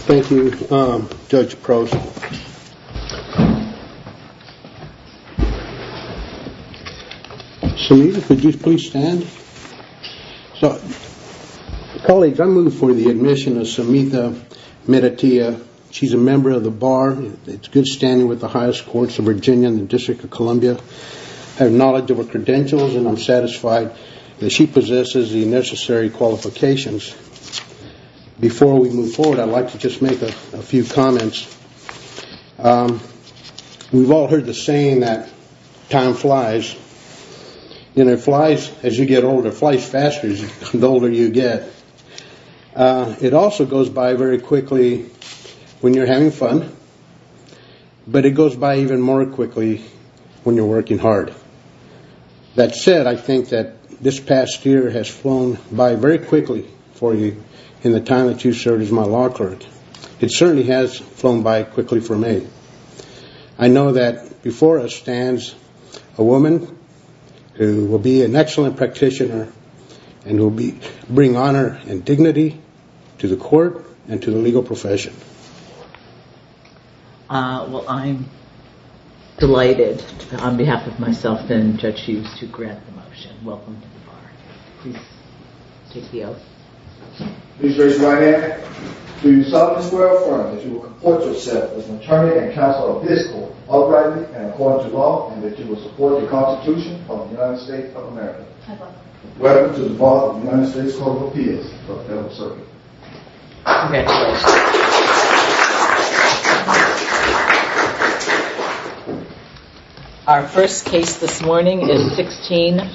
Thank you, Judge Prost. Samitha, could you please stand? Colleagues, I move for the admission of Samitha Meditia. She's a member of the Bar. It's good standing with the highest courts of Virginia and the District of Columbia. I have knowledge of her credentials and I'm satisfied. She possesses the necessary qualifications. Before we move forward, I'd like to just make a few comments. We've all heard the saying that time flies. You know, it flies as you get older, it flies faster the older you get. It also goes by very quickly when you're having fun, but it goes by even more quickly when you're working hard. That said, I think that this past year has flown by very quickly for you in the time that you served as my law clerk. It certainly has flown by quickly for me. I know that before us stands a woman who will be an excellent practitioner and will bring honor and dignity to the court and to the legal profession. Well, I'm delighted on behalf of myself and Judge Hughes to grant the motion. Welcome to the Bar. Please take the oath. I please raise my hand. Do you solemnly swear or affirm that you will comport yourself as an attorney and counsel of this court, uprightly and according to law, and that you will support the Constitution of the United States of America? I do. Welcome to the Bar of the United States Court of Appeals for the Federal Circuit. Congratulations. Thank you. Our first case this morning is 16-2000,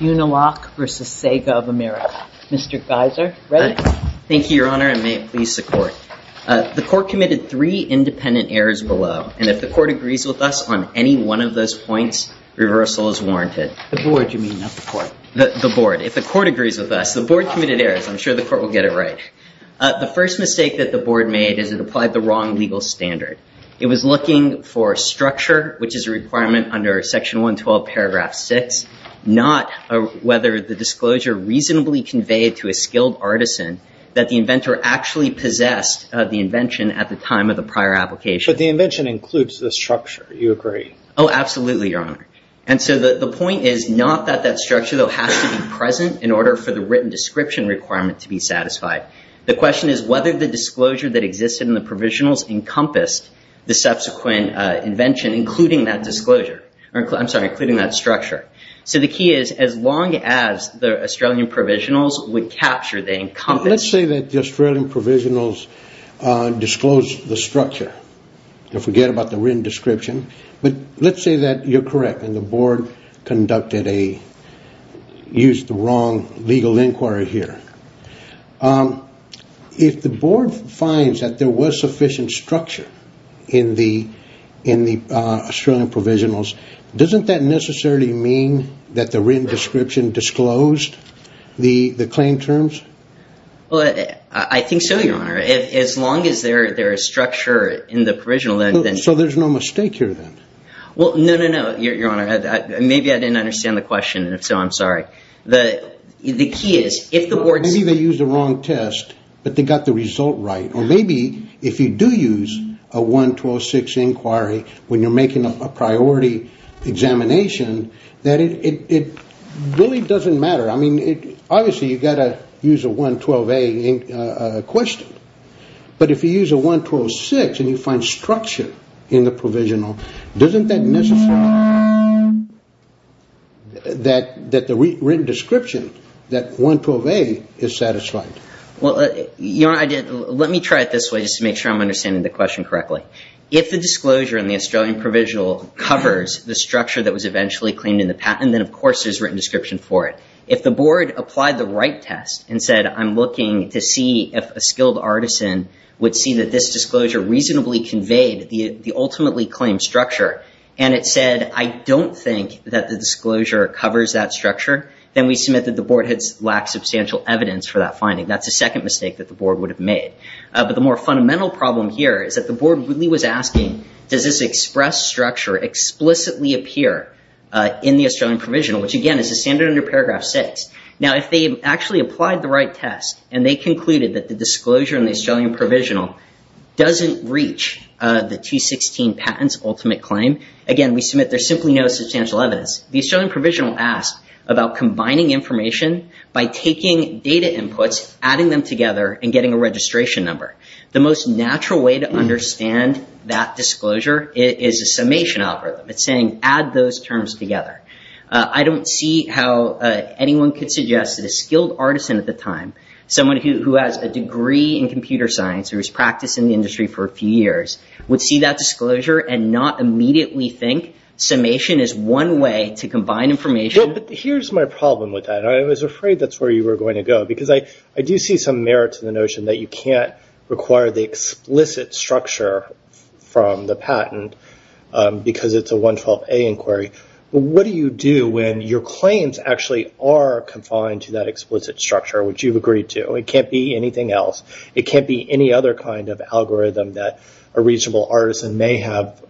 Unilock v. Sega of America. Mr. Geiser, ready? Thank you, Your Honor, and may it please the court. The court committed three independent errors below, and if the court agrees with us on any one of those points, reversal is warranted. The board, you mean, not the court. The board. If the court agrees with us, the board committed errors. I'm sure the court will get it right. The first mistake that the board made is it applied the wrong legal standard. It was looking for structure, which is a requirement under Section 112, Paragraph 6, not whether the disclosure reasonably conveyed to a skilled artisan that the inventor actually possessed the invention at the time of the prior application. But the invention includes the structure. You agree? Oh, absolutely, Your Honor. And so the point is not that that structure, though, has to be present in order for the written description requirement to be satisfied. The question is whether the disclosure that existed in the provisionals encompassed the subsequent invention, including that disclosure. I'm sorry, including that structure. So the key is, as long as the Australian provisionals would capture, they encompass. Let's say that the Australian provisionals disclosed the structure. They'll forget about the written description. But let's say that you're correct and the board conducted a, used the wrong legal inquiry here. If the board finds that there was sufficient structure in the Australian provisionals, doesn't that necessarily mean that the written description disclosed the claim terms? Well, I think so, Your Honor. As long as there is structure in the provisional, then. So there's no mistake here, then? Well, no, no, no, Your Honor. Maybe I didn't understand the question. And if so, I'm sorry. The key is, if the board. Maybe they used the wrong test, but they got the result right. Or maybe if you do use a 112-6 inquiry when you're making a priority examination, that it really doesn't matter. I mean, obviously, you've got to use a 112-A question. But if you use a 112-6 and you find structure in the provisional, doesn't that necessarily mean that the written description, that 112-A, is satisfied? Well, Your Honor, let me try it this way, just to make sure I'm understanding the question correctly. If the disclosure in the Australian provisional covers the structure that was eventually claimed in the patent, then of course there's written description for it. If the board applied the right test and said, I'm looking to see if a skilled artisan would see that this disclosure reasonably conveyed the ultimately claimed structure, and it said, I don't think that the disclosure covers that structure, then we submit that the board has lacked substantial evidence for that finding. That's the second mistake that the board would have made. But the more fundamental problem here is that the board really was asking, does this express structure explicitly appear in the Australian provisional, which again, is the standard under paragraph 6. Now, if they actually applied the right test and they concluded that the disclosure in the Australian provisional doesn't reach the T16 patent's ultimate claim, again, we submit there's simply no substantial evidence. The Australian provisional asked about combining information by taking data inputs, adding them together, and getting a registration number. The most natural way to understand that disclosure is a summation algorithm. It's saying, add those terms together. I don't see how anyone could suggest that a skilled artisan at the time, someone who has a degree in computer science, who has practiced in the industry for a few years, would see that disclosure and not immediately think summation is one way to combine information. Well, but here's my problem with that. I was afraid that's where you were going to go, because I do see some merit to the notion that you can't require the explicit structure from the patent because it's a 112A inquiry. But what do you do when your claims actually are confined to that explicit structure, which you've agreed to? It can't be anything else. It can't be any other kind of algorithm that a reasonable artisan may have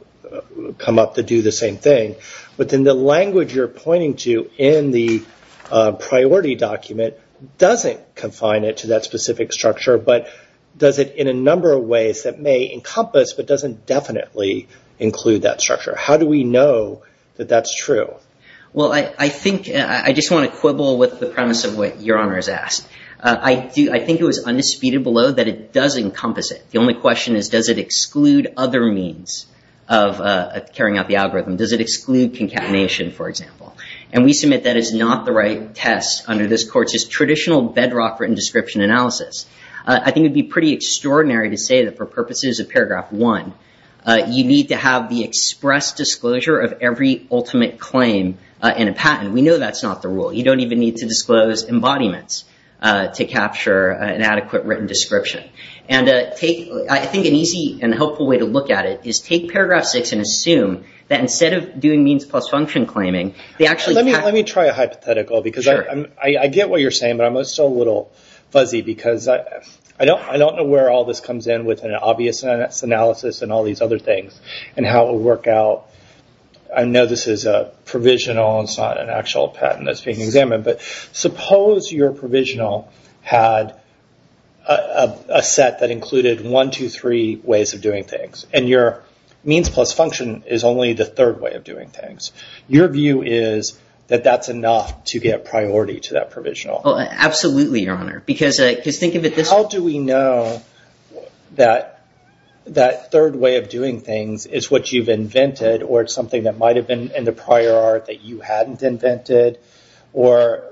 come up to do the same thing. But then the language you're pointing to in the priority document doesn't confine it to that specific structure, but does it in a number of ways that may encompass but doesn't definitely include that structure. How do we know that that's true? Well, I think I just want to quibble with the premise of what Your Honor has asked. I think it was undisputed below that it does encompass it. The only question is, does it exclude other means of carrying out the algorithm? Does it exclude concatenation, for example? And we submit that is not the right test under this court's traditional bedrock written description analysis. I think it'd be pretty extraordinary to say that for purposes of paragraph one, you need to have the express disclosure of every ultimate claim in a patent. We know that's not the rule. You don't even need to disclose embodiments to capture an adequate written description. And I think an easy and helpful way to look at it is take paragraph six and assume that instead of doing means plus function claiming, they actually... Let me try a hypothetical because I get what you're saying, but I'm still a little fuzzy because I don't know where all this comes in with an obvious analysis and all these other things and how it would work out. I know this is a provisional. It's not an actual patent that's being examined. But suppose your provisional had a set that included one, two, three ways of doing things and your means plus function is only the third way of doing things. Your view is that that's enough to get priority to that provisional. Absolutely, Your Honor, because think of it this way. How do we know that that third way of doing things is what you've invented or it's something that might have been in the prior art that you hadn't invented or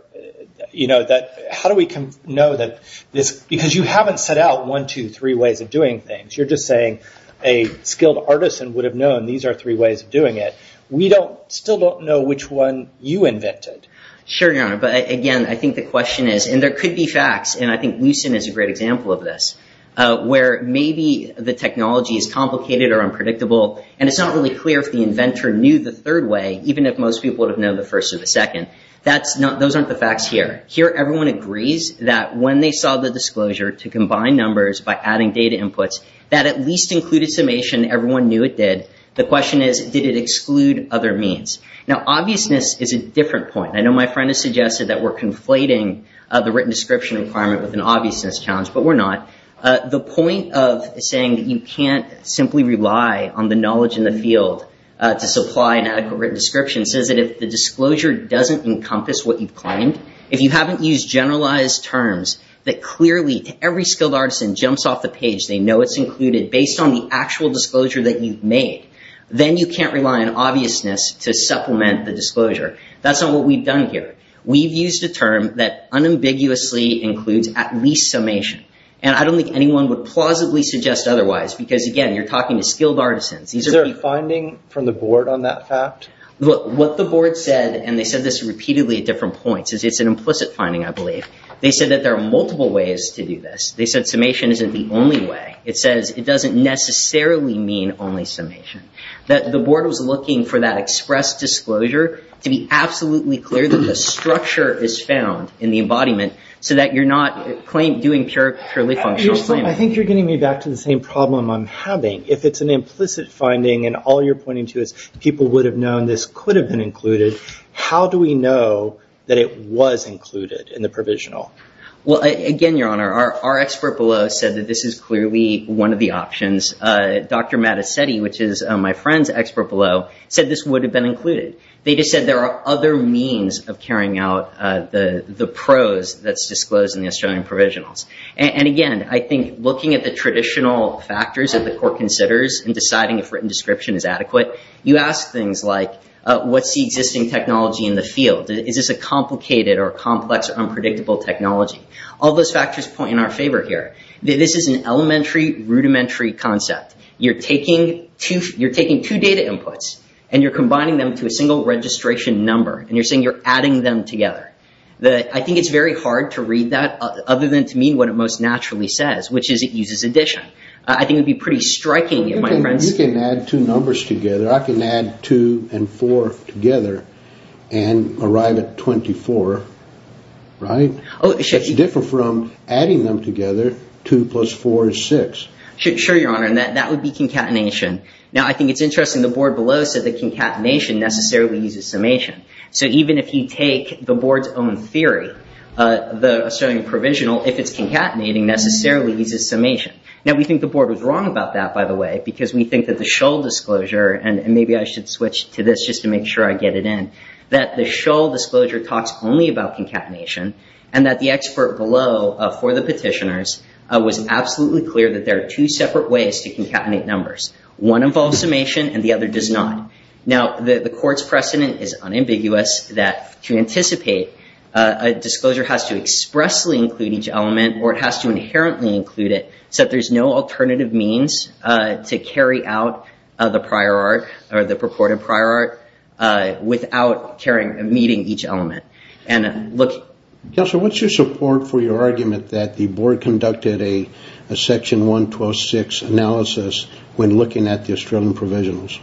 that... How do we know that this... Because you haven't set out one, two, three ways of doing things. You're just saying a skilled artisan would have known these are three ways of doing it. We still don't know which one you invented. Sure, Your Honor, but again, I think the question is, and there could be facts, and I think Lucent is a great example of this, where maybe the technology is complicated or unpredictable and it's not really clear if the inventor knew the third way, even if most people would have known the first or the second. That's not... Those aren't the facts here. Here, everyone agrees that when they saw the disclosure to combine numbers by adding data inputs, that at least included summation. Everyone knew it did. The question is, did it exclude other means? Now, obviousness is a different point. I know my friend has suggested that we're conflating the written description requirement with an obviousness challenge, but we're not. The point of saying that you can't simply rely on the knowledge in the field to supply an adequate written description says that if the disclosure doesn't encompass what you've claimed, if you haven't used generalized terms that clearly to every skilled artisan jumps off the page, they know it's included based on the actual disclosure that you've made, then you can't rely on obviousness to supplement the disclosure. That's not what we've done here. We've used a term that unambiguously includes at least summation. And I don't think anyone would plausibly suggest otherwise. Because again, you're talking to skilled artisans. Is there a finding from the board on that fact? What the board said, and they said this repeatedly at different points, is it's an implicit finding, I believe. They said that there are multiple ways to do this. They said summation isn't the only way. It says it doesn't necessarily mean only summation. That the board was looking for that express disclosure to be absolutely clear that the I think you're getting me back to the same problem I'm having. If it's an implicit finding, and all you're pointing to is people would have known this could have been included, how do we know that it was included in the provisional? Well, again, Your Honor, our expert below said that this is clearly one of the options. Dr. Mattacetti, which is my friend's expert below, said this would have been included. They just said there are other means of carrying out the pros that's disclosed in the Australian provisionals. Again, I think looking at the traditional factors that the court considers in deciding if written description is adequate, you ask things like what's the existing technology in the field? Is this a complicated or complex or unpredictable technology? All those factors point in our favor here. This is an elementary rudimentary concept. You're taking two data inputs, and you're combining them to a single registration number, and you're saying you're adding them together. I think it's very hard to read that other than to mean what it most naturally says, which is it uses addition. I think it would be pretty striking if my friends... You can add two numbers together. I can add two and four together and arrive at 24, right? It's different from adding them together. Two plus four is six. Sure, Your Honor, and that would be concatenation. Now, I think it's interesting the board below said that concatenation necessarily uses summation. So even if you take the board's own theory, the Australian Provisional, if it's concatenating, necessarily uses summation. Now, we think the board was wrong about that, by the way, because we think that the Shull disclosure, and maybe I should switch to this just to make sure I get it in, that the Shull disclosure talks only about concatenation, and that the expert below for the petitioners was absolutely clear that there are two separate ways to concatenate numbers. One involves summation, and the other does not. Now, the court's precedent is unambiguous that to anticipate a disclosure has to expressly include each element, or it has to inherently include it, so that there's no alternative means to carry out the prior art or the purported prior art without meeting each element. Counselor, what's your support for your argument that the board conducted a Section 1126 analysis when looking at the Australian Provisionals?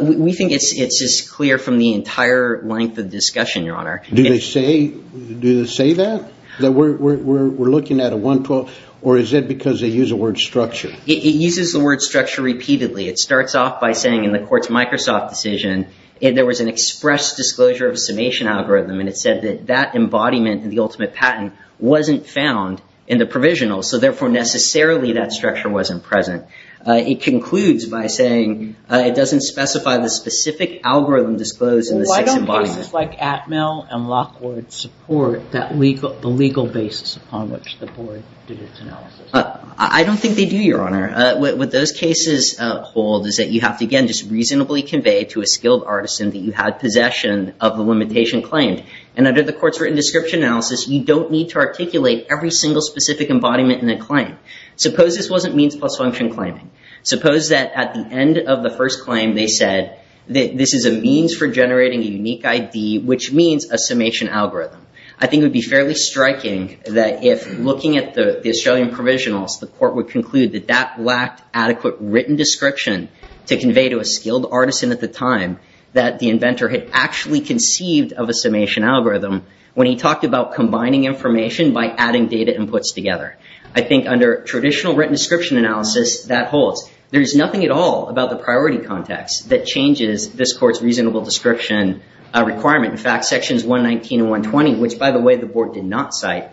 We think it's as clear from the entire length of the discussion, Your Honor. Do they say that, that we're looking at a 112, or is it because they use the word structure? It uses the word structure repeatedly. It starts off by saying in the court's Microsoft decision, there was an express disclosure of a summation algorithm, and it said that that embodiment in the ultimate patent wasn't found in the provisionals, so therefore necessarily that structure wasn't present. It concludes by saying it doesn't specify the specific algorithm disclosed in the six embodiments. Why don't cases like Atmel and Lockwood support the legal basis upon which the board did its analysis? I don't think they do, Your Honor. What those cases hold is that you have to, again, just reasonably convey to a skilled artisan that you had possession of the limitation claimed. And under the court's written description analysis, you don't need to articulate every single specific embodiment in the claim. Suppose this wasn't means plus function claiming. Suppose that at the end of the first claim, they said that this is a means for generating a unique ID, which means a summation algorithm. I think it would be fairly striking that if looking at the Australian provisionals, the court would conclude that that lacked adequate written description to convey to a skilled artisan at the time that the inventor had actually conceived of a summation algorithm when he talked about combining information by adding data inputs together. I think under traditional written description analysis, that holds. There is nothing at all about the priority context that changes this court's reasonable description requirement. In fact, Sections 119 and 120, which, by the way, the board did not cite,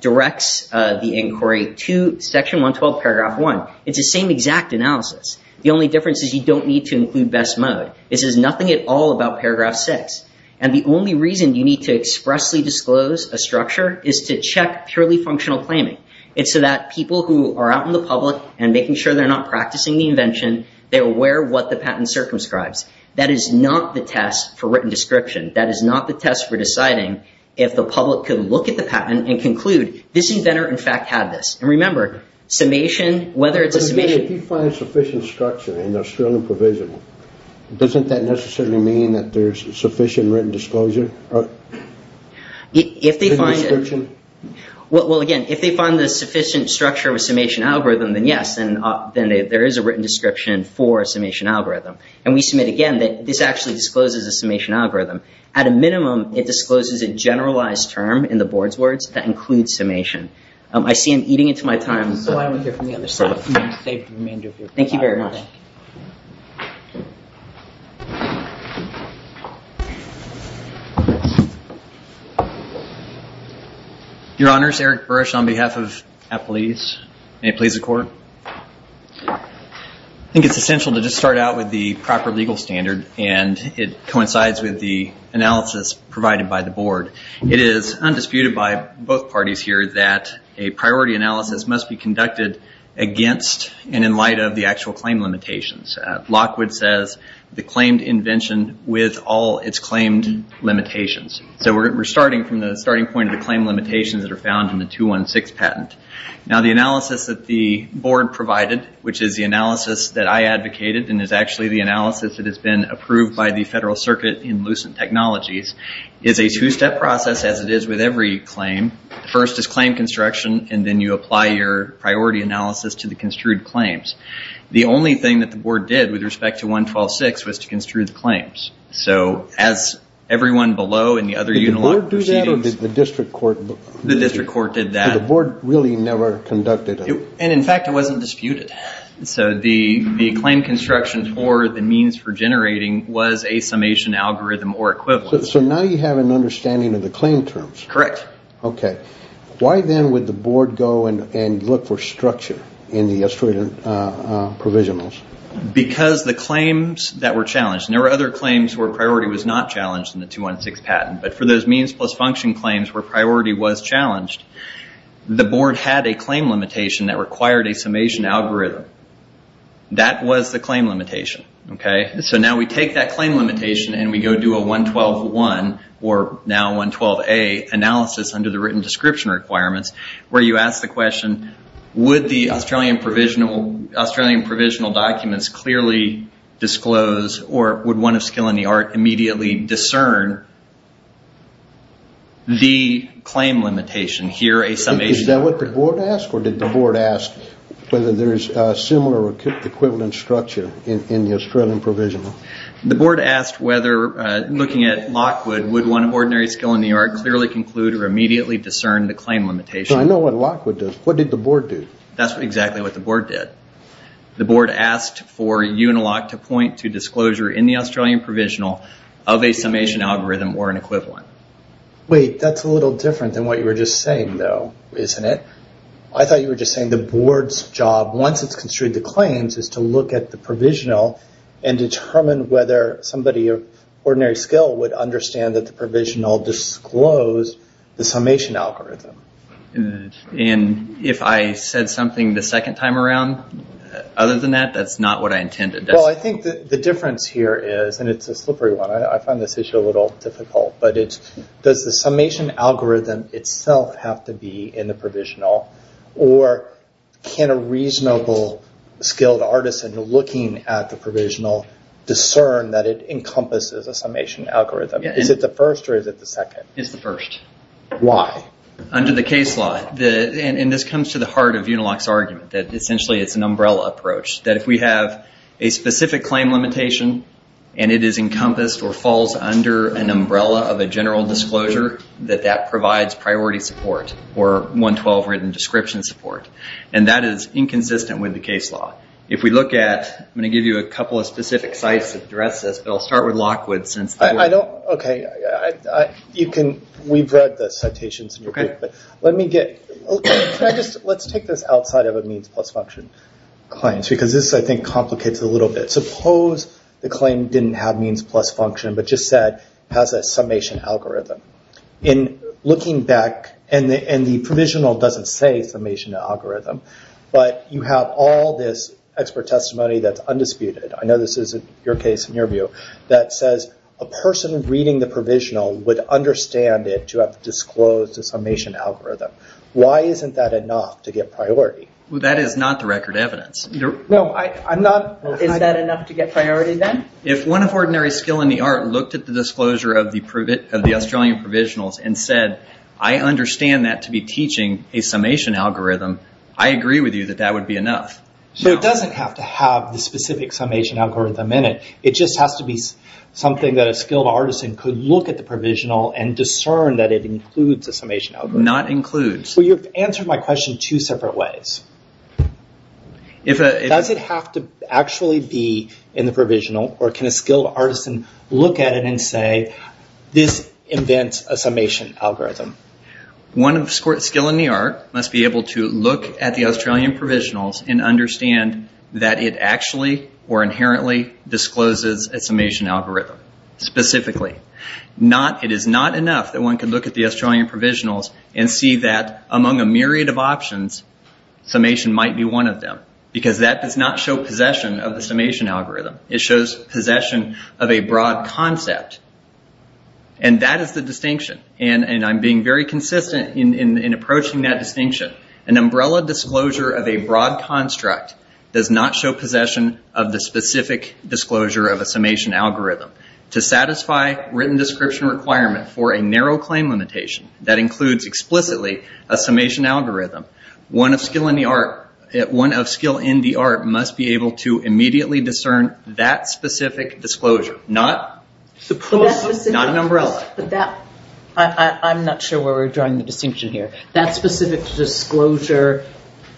directs the inquiry to Section 112, Paragraph 1. It's the same exact analysis. The only difference is you don't need to include best mode. This is nothing at all about Paragraph 6. And the only reason you need to expressly disclose a structure is to check purely functional claiming. It's so that people who are out in the public and making sure they're not practicing the invention, they're aware of what the patent circumscribes. That is not the test for written description. That is not the test for deciding if the public could look at the patent and conclude, this inventor, in fact, had this. And remember, summation, whether it's a summation. If you find sufficient structure in the Australian provisional, doesn't that necessarily mean that there's sufficient written disclosure? If they find it. Well, again, if they find the sufficient structure of a summation algorithm, then yes, then there is a written description for a summation algorithm. And we submit, again, that this actually discloses a summation algorithm. At a minimum, it discloses a generalized term in the board's words that includes summation. I see I'm eating into my time. Thank you very much. Your Honor, it's Eric Burrish on behalf of Appalachia Police. May it please the court. I think it's essential to just start out with the proper legal standard. And it coincides with the analysis provided by the board. It is undisputed by both parties here that a priority analysis must be conducted against and in light of the actual claim limitations. Lockwood says the claimed invention with all its claimed limitations. So we're starting from the starting point of the claim limitations that are found in the 216 patent. Now, the analysis that the board provided, which is the analysis that I advocated and is actually the analysis that has been approved by the Federal Circuit in Lucent Technologies, is a two-step process as it is with every claim. First is claim construction, and then you apply your priority analysis to the construed claims. The only thing that the board did with respect to 1126 was to construe the claims. So as everyone below in the other unilog proceedings... Did the board do that or did the district court... The district court did that. The board really never conducted it. And in fact, it wasn't disputed. So the claim construction for the means for generating was a summation algorithm or equivalent. So now you have an understanding of the claim terms. Correct. Okay. Why then would the board go and look for structure in the estuary provisionals? Because the claims that were challenged... There were other claims where priority was not challenged in the 216 patent, but for those means plus function claims where priority was challenged, the board had a claim limitation that required a summation algorithm. That was the claim limitation. Okay. So now we take that claim limitation and we go do a 112-1 or now 112-A analysis under immediately discern the claim limitation here, a summation... Is that what the board asked? Or did the board ask whether there's a similar equivalent structure in the Australian provisional? The board asked whether looking at Lockwood, would one of ordinary skill in New York clearly conclude or immediately discern the claim limitation? I know what Lockwood does. What did the board do? That's exactly what the board did. The board asked for Unilock to point to disclosure in the Australian provisional of a summation algorithm or an equivalent. Wait, that's a little different than what you were just saying though, isn't it? I thought you were just saying the board's job, once it's construed the claims, is to look at the provisional and determine whether somebody of ordinary skill would understand that the provisional disclosed the summation algorithm. And if I said something the second time around, other than that, that's not what I intended. Well, I think the difference here is, and it's a slippery one, I find this issue a little difficult, but it's does the summation algorithm itself have to be in the provisional or can a reasonable skilled artisan looking at the provisional discern that it encompasses a summation algorithm? Is it the first or is it the second? It's the first. Why? Under the case law, and this comes to the heart of Unilock's argument, that essentially it's an umbrella approach. That if we have a specific claim limitation and it is encompassed or falls under an umbrella of a general disclosure, that that provides priority support or 112 written description support. And that is inconsistent with the case law. If we look at, I'm going to give you a couple of specific sites that address this, but I'll start with Lockwood. Okay. We've read the citations in your book, but let me get... Let's take this outside of a means plus function claims, because this, I think, complicates it a little bit. Suppose the claim didn't have means plus function, but just said has a summation algorithm. In looking back, and the provisional doesn't say summation algorithm, but you have all this expert testimony that's undisputed. I know this isn't your case in your view, that says a person reading the provisional would understand it to have disclosed a summation algorithm. Why isn't that enough to get priority? That is not the record evidence. Is that enough to get priority then? If one of ordinary skill in the art looked at the disclosure of the Australian provisionals and said, I understand that to be teaching a summation algorithm, I agree with you that that would be enough. It doesn't have to have the specific summation algorithm in it. It just has to be something that a skilled artisan could look at the provisional and discern that it includes a summation algorithm. Not includes. You've answered my question two separate ways. Does it have to actually be in the provisional, or can a skilled artisan look at it and say, this invents a summation algorithm? One of skill in the art must be able to look at the Australian provisionals and understand that it actually or inherently discloses a summation algorithm specifically. It is not enough that one could look at the Australian provisionals and see that among a myriad of options, summation might be one of them. Because that does not show possession of the summation algorithm. It shows possession of a broad concept. That is the distinction. I'm being very consistent in approaching that distinction. An umbrella disclosure of a broad construct does not show possession of the specific disclosure of a summation algorithm. To satisfy written description requirement for a narrow claim limitation that includes explicitly a summation algorithm, one of skill in the art must be able to immediately discern that specific disclosure. Not an umbrella. But that, I'm not sure where we're drawing the distinction here. That specific disclosure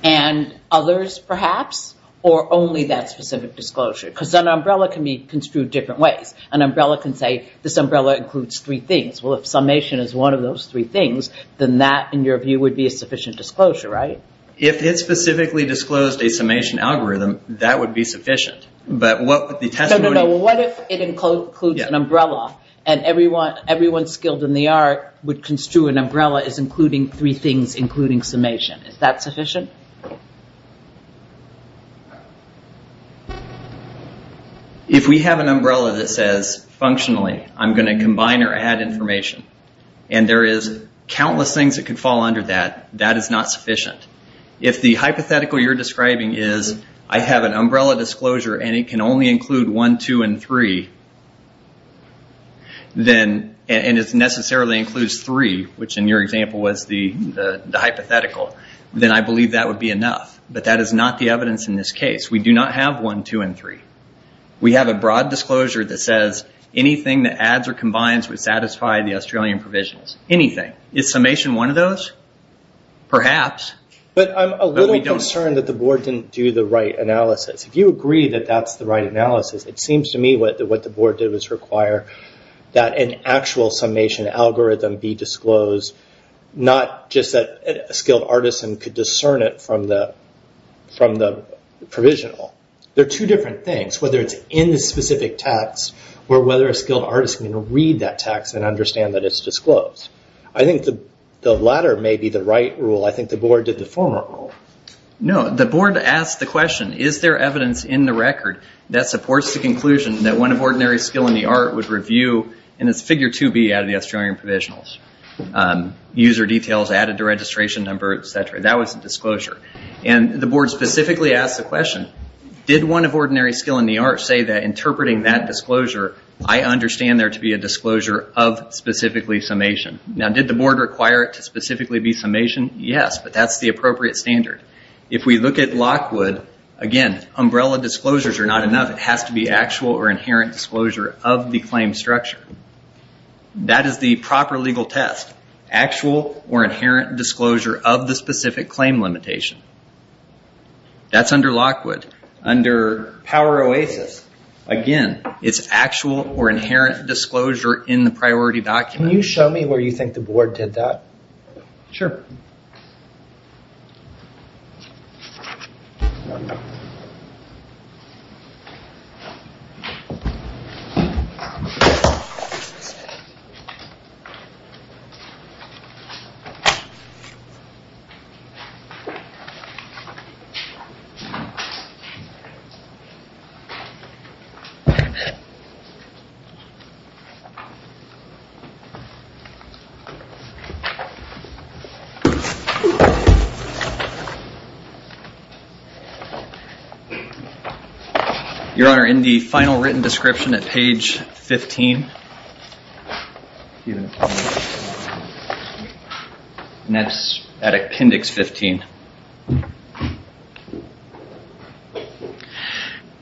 and others perhaps, or only that specific disclosure? Because an umbrella can be construed different ways. An umbrella can say, this umbrella includes three things. Well, if summation is one of those three things, then that, in your view, would be a sufficient disclosure, right? If it specifically disclosed a summation algorithm, that would be sufficient. But what would the testimony? What if it includes an umbrella, and everyone skilled in the art would construe an umbrella as including three things, including summation? Is that sufficient? If we have an umbrella that says, functionally, I'm going to combine or add information, and there is countless things that could fall under that, that is not sufficient. If the hypothetical you're describing is, I have an umbrella disclosure, and it can only include one, two, and three, and it necessarily includes three, which in your example was the hypothetical, then I believe that would be enough. But that is not the evidence in this case. We do not have one, two, and three. We have a broad disclosure that says, anything that adds or combines would satisfy the Australian provisions. Anything. Is summation one of those? Perhaps. But I'm a little concerned that the board didn't do the right analysis. If you agree that that's the right analysis, it seems to me what the board did was require that an actual summation algorithm be disclosed, not just that a skilled artisan could discern it from the provisional. They're two different things. Whether it's in the specific text, or whether a skilled artisan can read that text and understand that it's disclosed. I think the latter may be the right rule. I think the board did the former rule. No. The board asked the question, is there evidence in the record that supports the conclusion that one of ordinary skill in the art would review, and it's figure 2B out of the Australian provisionals. User details added to registration number, et cetera. That was a disclosure. And the board specifically asked the question, did one of ordinary skill in the art say that interpreting that disclosure, I understand there to be a disclosure of specifically summation. Now, did the board require it to specifically be summation? Yes, but that's the appropriate standard. If we look at Lockwood, again, umbrella disclosures are not enough. It has to be actual or inherent disclosure of the claim structure. That is the proper legal test. Actual or inherent disclosure of the specific claim limitation. That's under Lockwood. Under Power Oasis, again, it's actual or inherent disclosure in the priority document. Can you show me where you think the board did that? Sure. Your Honor, in the final written description at page 15, and that's at appendix 15.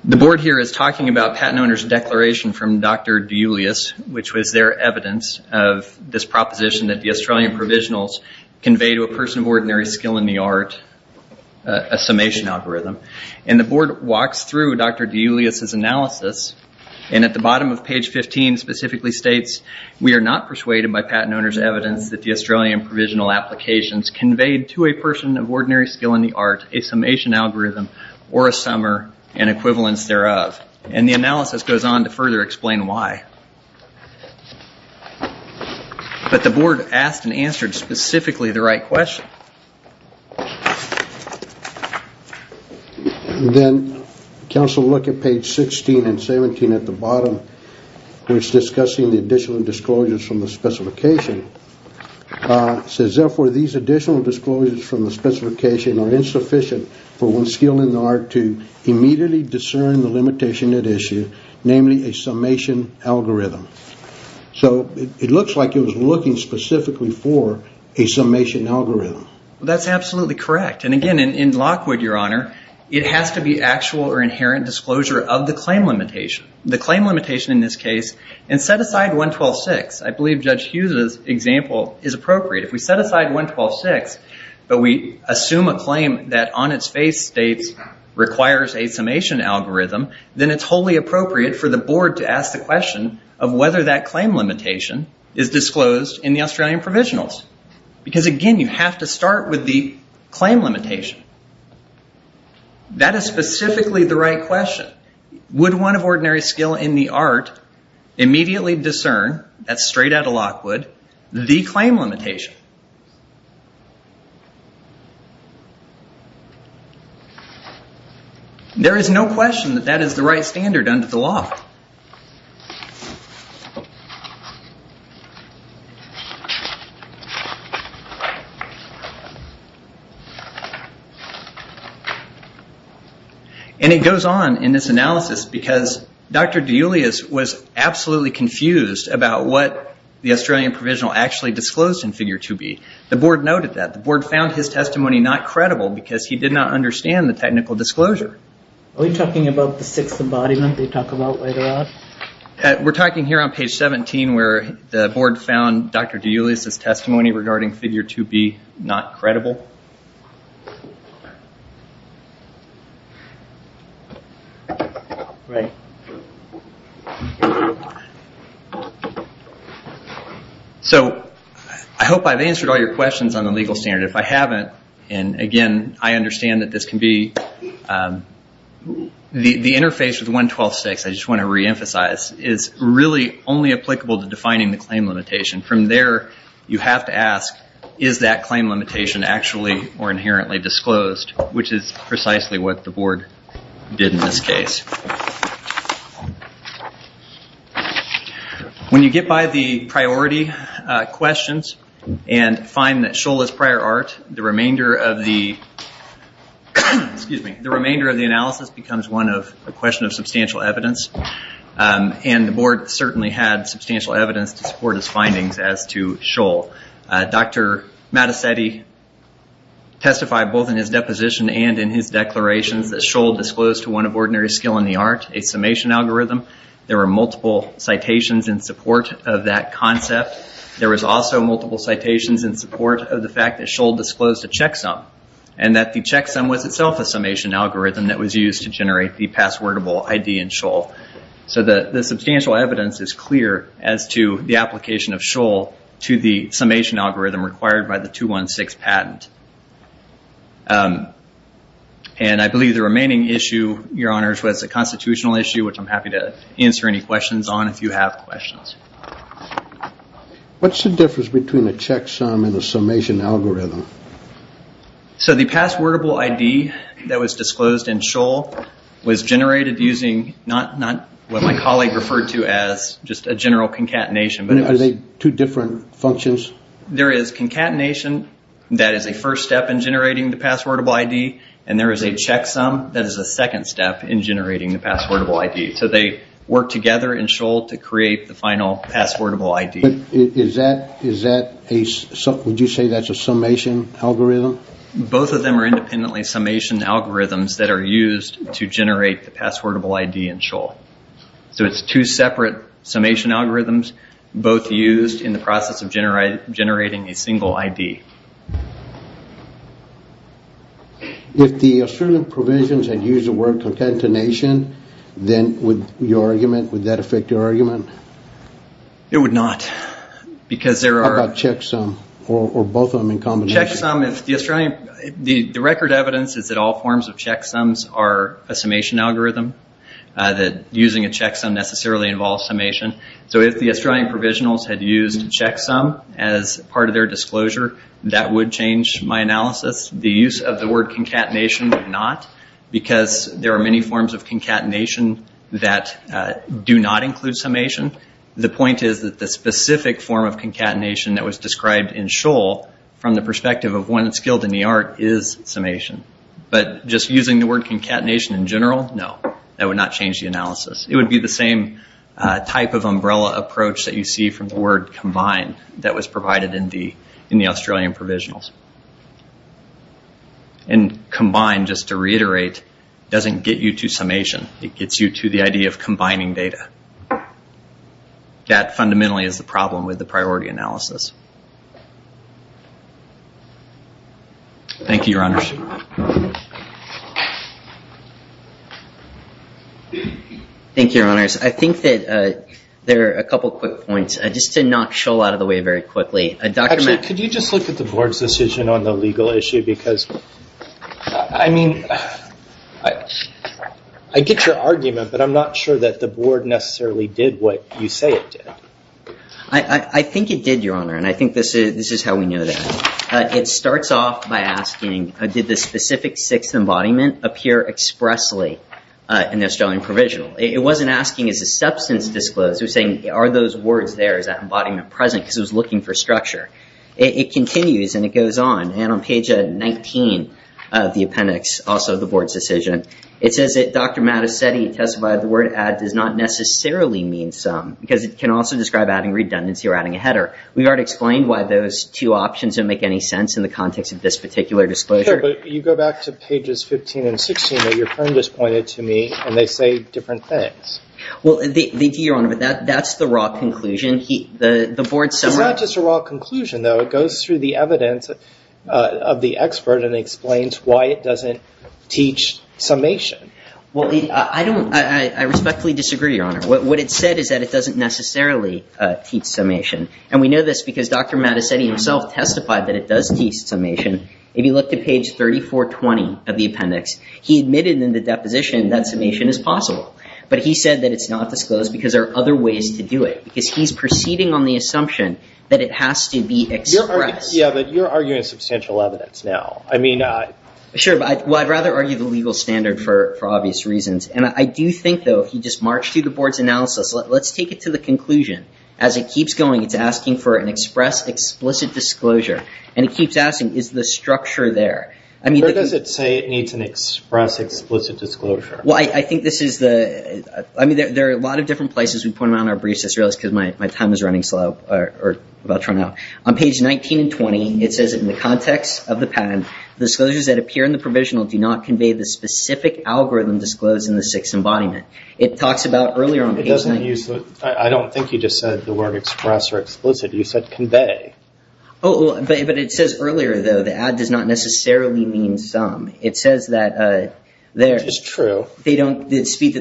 The board here is talking about patent owner's declaration from Dr. De Julius, which was their evidence of this proposition that the Australian provisionals convey to a person of ordinary skill in the art, a summation algorithm. And the board walks through Dr. De Julius' analysis, and at the bottom of page 15, specifically states, we are not persuaded by patent owner's evidence that the Australian provisional applications conveyed to a person of ordinary skill in the art, a summation algorithm, or a summer and equivalence thereof. And the analysis goes on to further explain why. But the board asked and answered specifically the right question. Then, counsel look at page 16 and 17 at the bottom, which is discussing the additional disclosures from the specification. It says, therefore, these additional disclosures from the specification are insufficient for one's skill in the art to immediately discern the limitation at issue, namely a summation algorithm. So it looks like it was looking specifically for a summation algorithm. That's absolutely correct. And again, in Lockwood, your honor, it has to be actual or inherent disclosure of the claim limitation. The claim limitation in this case, and set aside 112.6, I believe Judge Hughes' example is appropriate. If we set aside 112.6, but we assume a claim that on its face states, requires a summation algorithm, then it's wholly appropriate for the board to ask the question of whether that claim limitation is disclosed in the Australian provisionals. Because again, you have to start with the claim limitation. That is specifically the right question. Would one of ordinary skill in the art immediately discern, that's straight out of Lockwood, the claim limitation? There is no question that that is the right standard under the law. And it goes on in this analysis because Dr. De Julius was absolutely confused about what the Australian provisional actually disclosed in figure 2B. The board noted that. The board found his testimony not credible because he did not understand the technical disclosure. Are we talking about the sixth embodiment they talk about later on? We're talking here on page 17 where the board found Dr. De Julius' testimony regarding figure 2B not credible. Right. So, I hope I've answered all your questions on the legal standard. If I haven't, and again, I understand that this can be, the interface with 112.6, I just want to reemphasize, is really only applicable to defining the claim limitation. From there, you have to ask, is that claim limitation actually or inherently disclosed, which is precisely what the board did in this case. When you get by the priority questions and find that Shoal is prior art, the remainder of the, excuse me, the remainder of the analysis becomes one of a question of substantial evidence. And the board certainly had substantial evidence to support his findings as to Shoal. Dr. Mattesetti testified both in his deposition and in his declarations that Shoal disclosed to one of ordinary skill in the art, a summation algorithm. There were multiple citations in support of that concept. There was also multiple citations in support of the fact that Shoal disclosed a checksum and that the checksum was itself a summation algorithm that was used to generate the passwordable ID in Shoal. So, the substantial evidence is clear as to the application of Shoal to the summation algorithm required by the 216 patent. And I believe the remaining issue, your honors, was a constitutional issue, which I'm happy to answer any questions on if you have questions. What's the difference between a checksum and a summation algorithm? So, the passwordable ID that was disclosed in Shoal was generated using, not what my colleague referred to as just a general concatenation. Are they two different functions? There is concatenation that is a first step in generating the passwordable ID and there is a checksum that is a second step in generating the passwordable ID. So, they work together in Shoal to create the final passwordable ID. Would you say that's a summation algorithm? Both of them are independently summation algorithms that are used to generate the passwordable ID in Shoal. So, it's two separate summation algorithms both used in the process of generating a single ID. If the Australian provisions had used the word concatenation, then would your argument, would that affect your argument? It would not. Because there are... How about checksum or both of them in combination? Checksum, the Australian, the record evidence is that all forms of checksums are a summation algorithm, that using a checksum necessarily involves summation. So, if the Australian provisionals had used checksum as part of their disclosure, that would change my analysis. The use of the word concatenation would not because there are many forms of concatenation that do not include summation. The point is that the specific form of concatenation that was described in Shoal from the perspective of one skilled in the art is summation. But just using the word concatenation in general, no, that would not change the analysis. It would be the same type of umbrella approach that you see from the word combined that was provided in the Australian provisionals. And combined, just to reiterate, doesn't get you to summation. It gets you to the idea of combining data. That fundamentally is the problem with the priority analysis. Thank you, Your Honors. Thank you, Your Honors. I think that there are a couple of quick points. Just to not shoal out of the way very quickly, Dr. Mack. Actually, could you just look at the board's decision on the legal issue? Because, I mean, I get your argument, but I'm not sure that the board necessarily did what you say it did. I think it did, Your Honor. I think this is how we know that. It starts off by asking, did the specific sixth embodiment appear expressly in the Australian provisional? It wasn't asking, is the substance disclosed? It was saying, are those words there? Is that embodiment present? Because it was looking for structure. It continues, and it goes on. On page 19 of the appendix, also the board's decision, it says that Dr. Mattacetti testified the word add does not necessarily mean sum, because it can also describe adding redundancy or adding a header. We've already explained why those two options don't make any sense in the context of this particular disclosure. But you go back to pages 15 and 16 that your friend just pointed to me, and they say different things. Well, your Honor, that's the raw conclusion. It's not just a raw conclusion, though. It goes through the evidence of the expert and explains why it doesn't teach summation. Well, I respectfully disagree, Your Honor. What it said is that it doesn't necessarily teach summation. And we know this because Dr. Mattacetti himself testified that it does teach summation. If you look to page 3420 of the appendix, he admitted in the deposition that summation is possible. But he said that it's not disclosed because there are other ways to do it, because he's proceeding on the assumption that it has to be expressed. Yeah, but you're arguing substantial evidence now. Sure, but I'd rather argue the legal standard for obvious reasons. And I do think, though, if you just march through the board's analysis, let's take it to the conclusion. As it keeps going, it's asking for an express, explicit disclosure. And it keeps asking, is the structure there? I mean, does it say it needs an express, explicit disclosure? Well, I think this is the, I mean, there are a lot of different places we put it on our briefs, as I realize, because my time is running slow, or about to run out. On page 19 and 20, it says in the context of the patent, the disclosures that appear in the provisional do not convey the specific algorithm disclosed in the sixth embodiment. It talks about earlier on page 19. I don't think you just said the word express or explicit. You said convey. Oh, but it says earlier, though, the add does not necessarily mean sum. It says that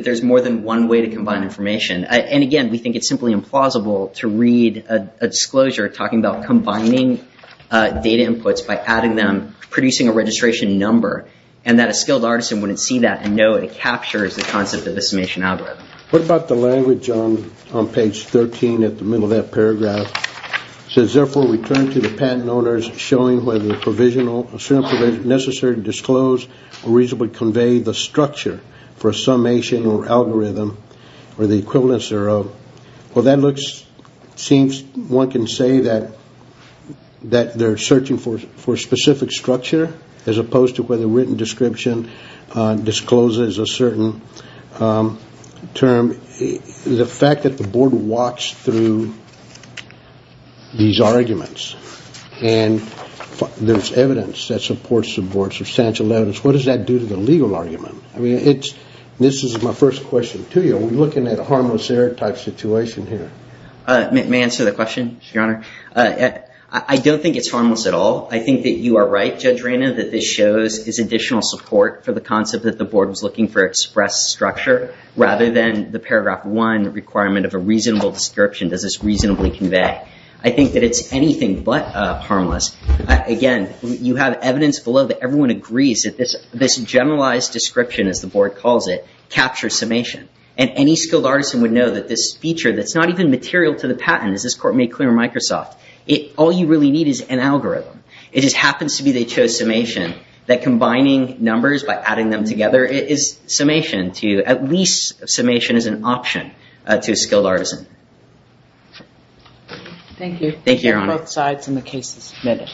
there's more than one way to combine information. And again, we think it's simply implausible to read a disclosure talking about combining data inputs by adding them, producing a registration number, and that a skilled artisan wouldn't see that and know it captures the concept of a summation algorithm. What about the language on page 13 at the middle of that paragraph? It says, therefore, we turn to the patent owners, showing whether a provisional, a certain provision is necessary to disclose or reasonably convey the structure for a summation or algorithm, or the equivalence thereof. Well, that looks, seems, one can say that they're searching for a specific structure, as opposed to whether written description discloses a certain term. The fact that the board walks through these arguments and there's evidence that supports the board, substantial evidence, what does that do to the legal argument? I mean, this is my first question to you. We're looking at a harmless error type situation here. May I answer the question, Your Honor? I don't think it's harmless at all. I think that you are right, Judge Reyna, that this shows is additional support for the concept that the board was looking for express structure, rather than the paragraph one requirement of a reasonable description. Does this reasonably convey? I think that it's anything but harmless. Again, you have evidence below that everyone agrees that this generalized description, as the board calls it, captures summation. And any skilled artisan would know that this feature that's not even material to the patent, as this court made clear in Microsoft, all you really need is an algorithm. It just happens to be they chose summation. That combining numbers by adding them together is summation, at least summation is an option to a skilled artisan. Thank you. Thank you, Your Honor. Both sides in the case submitted.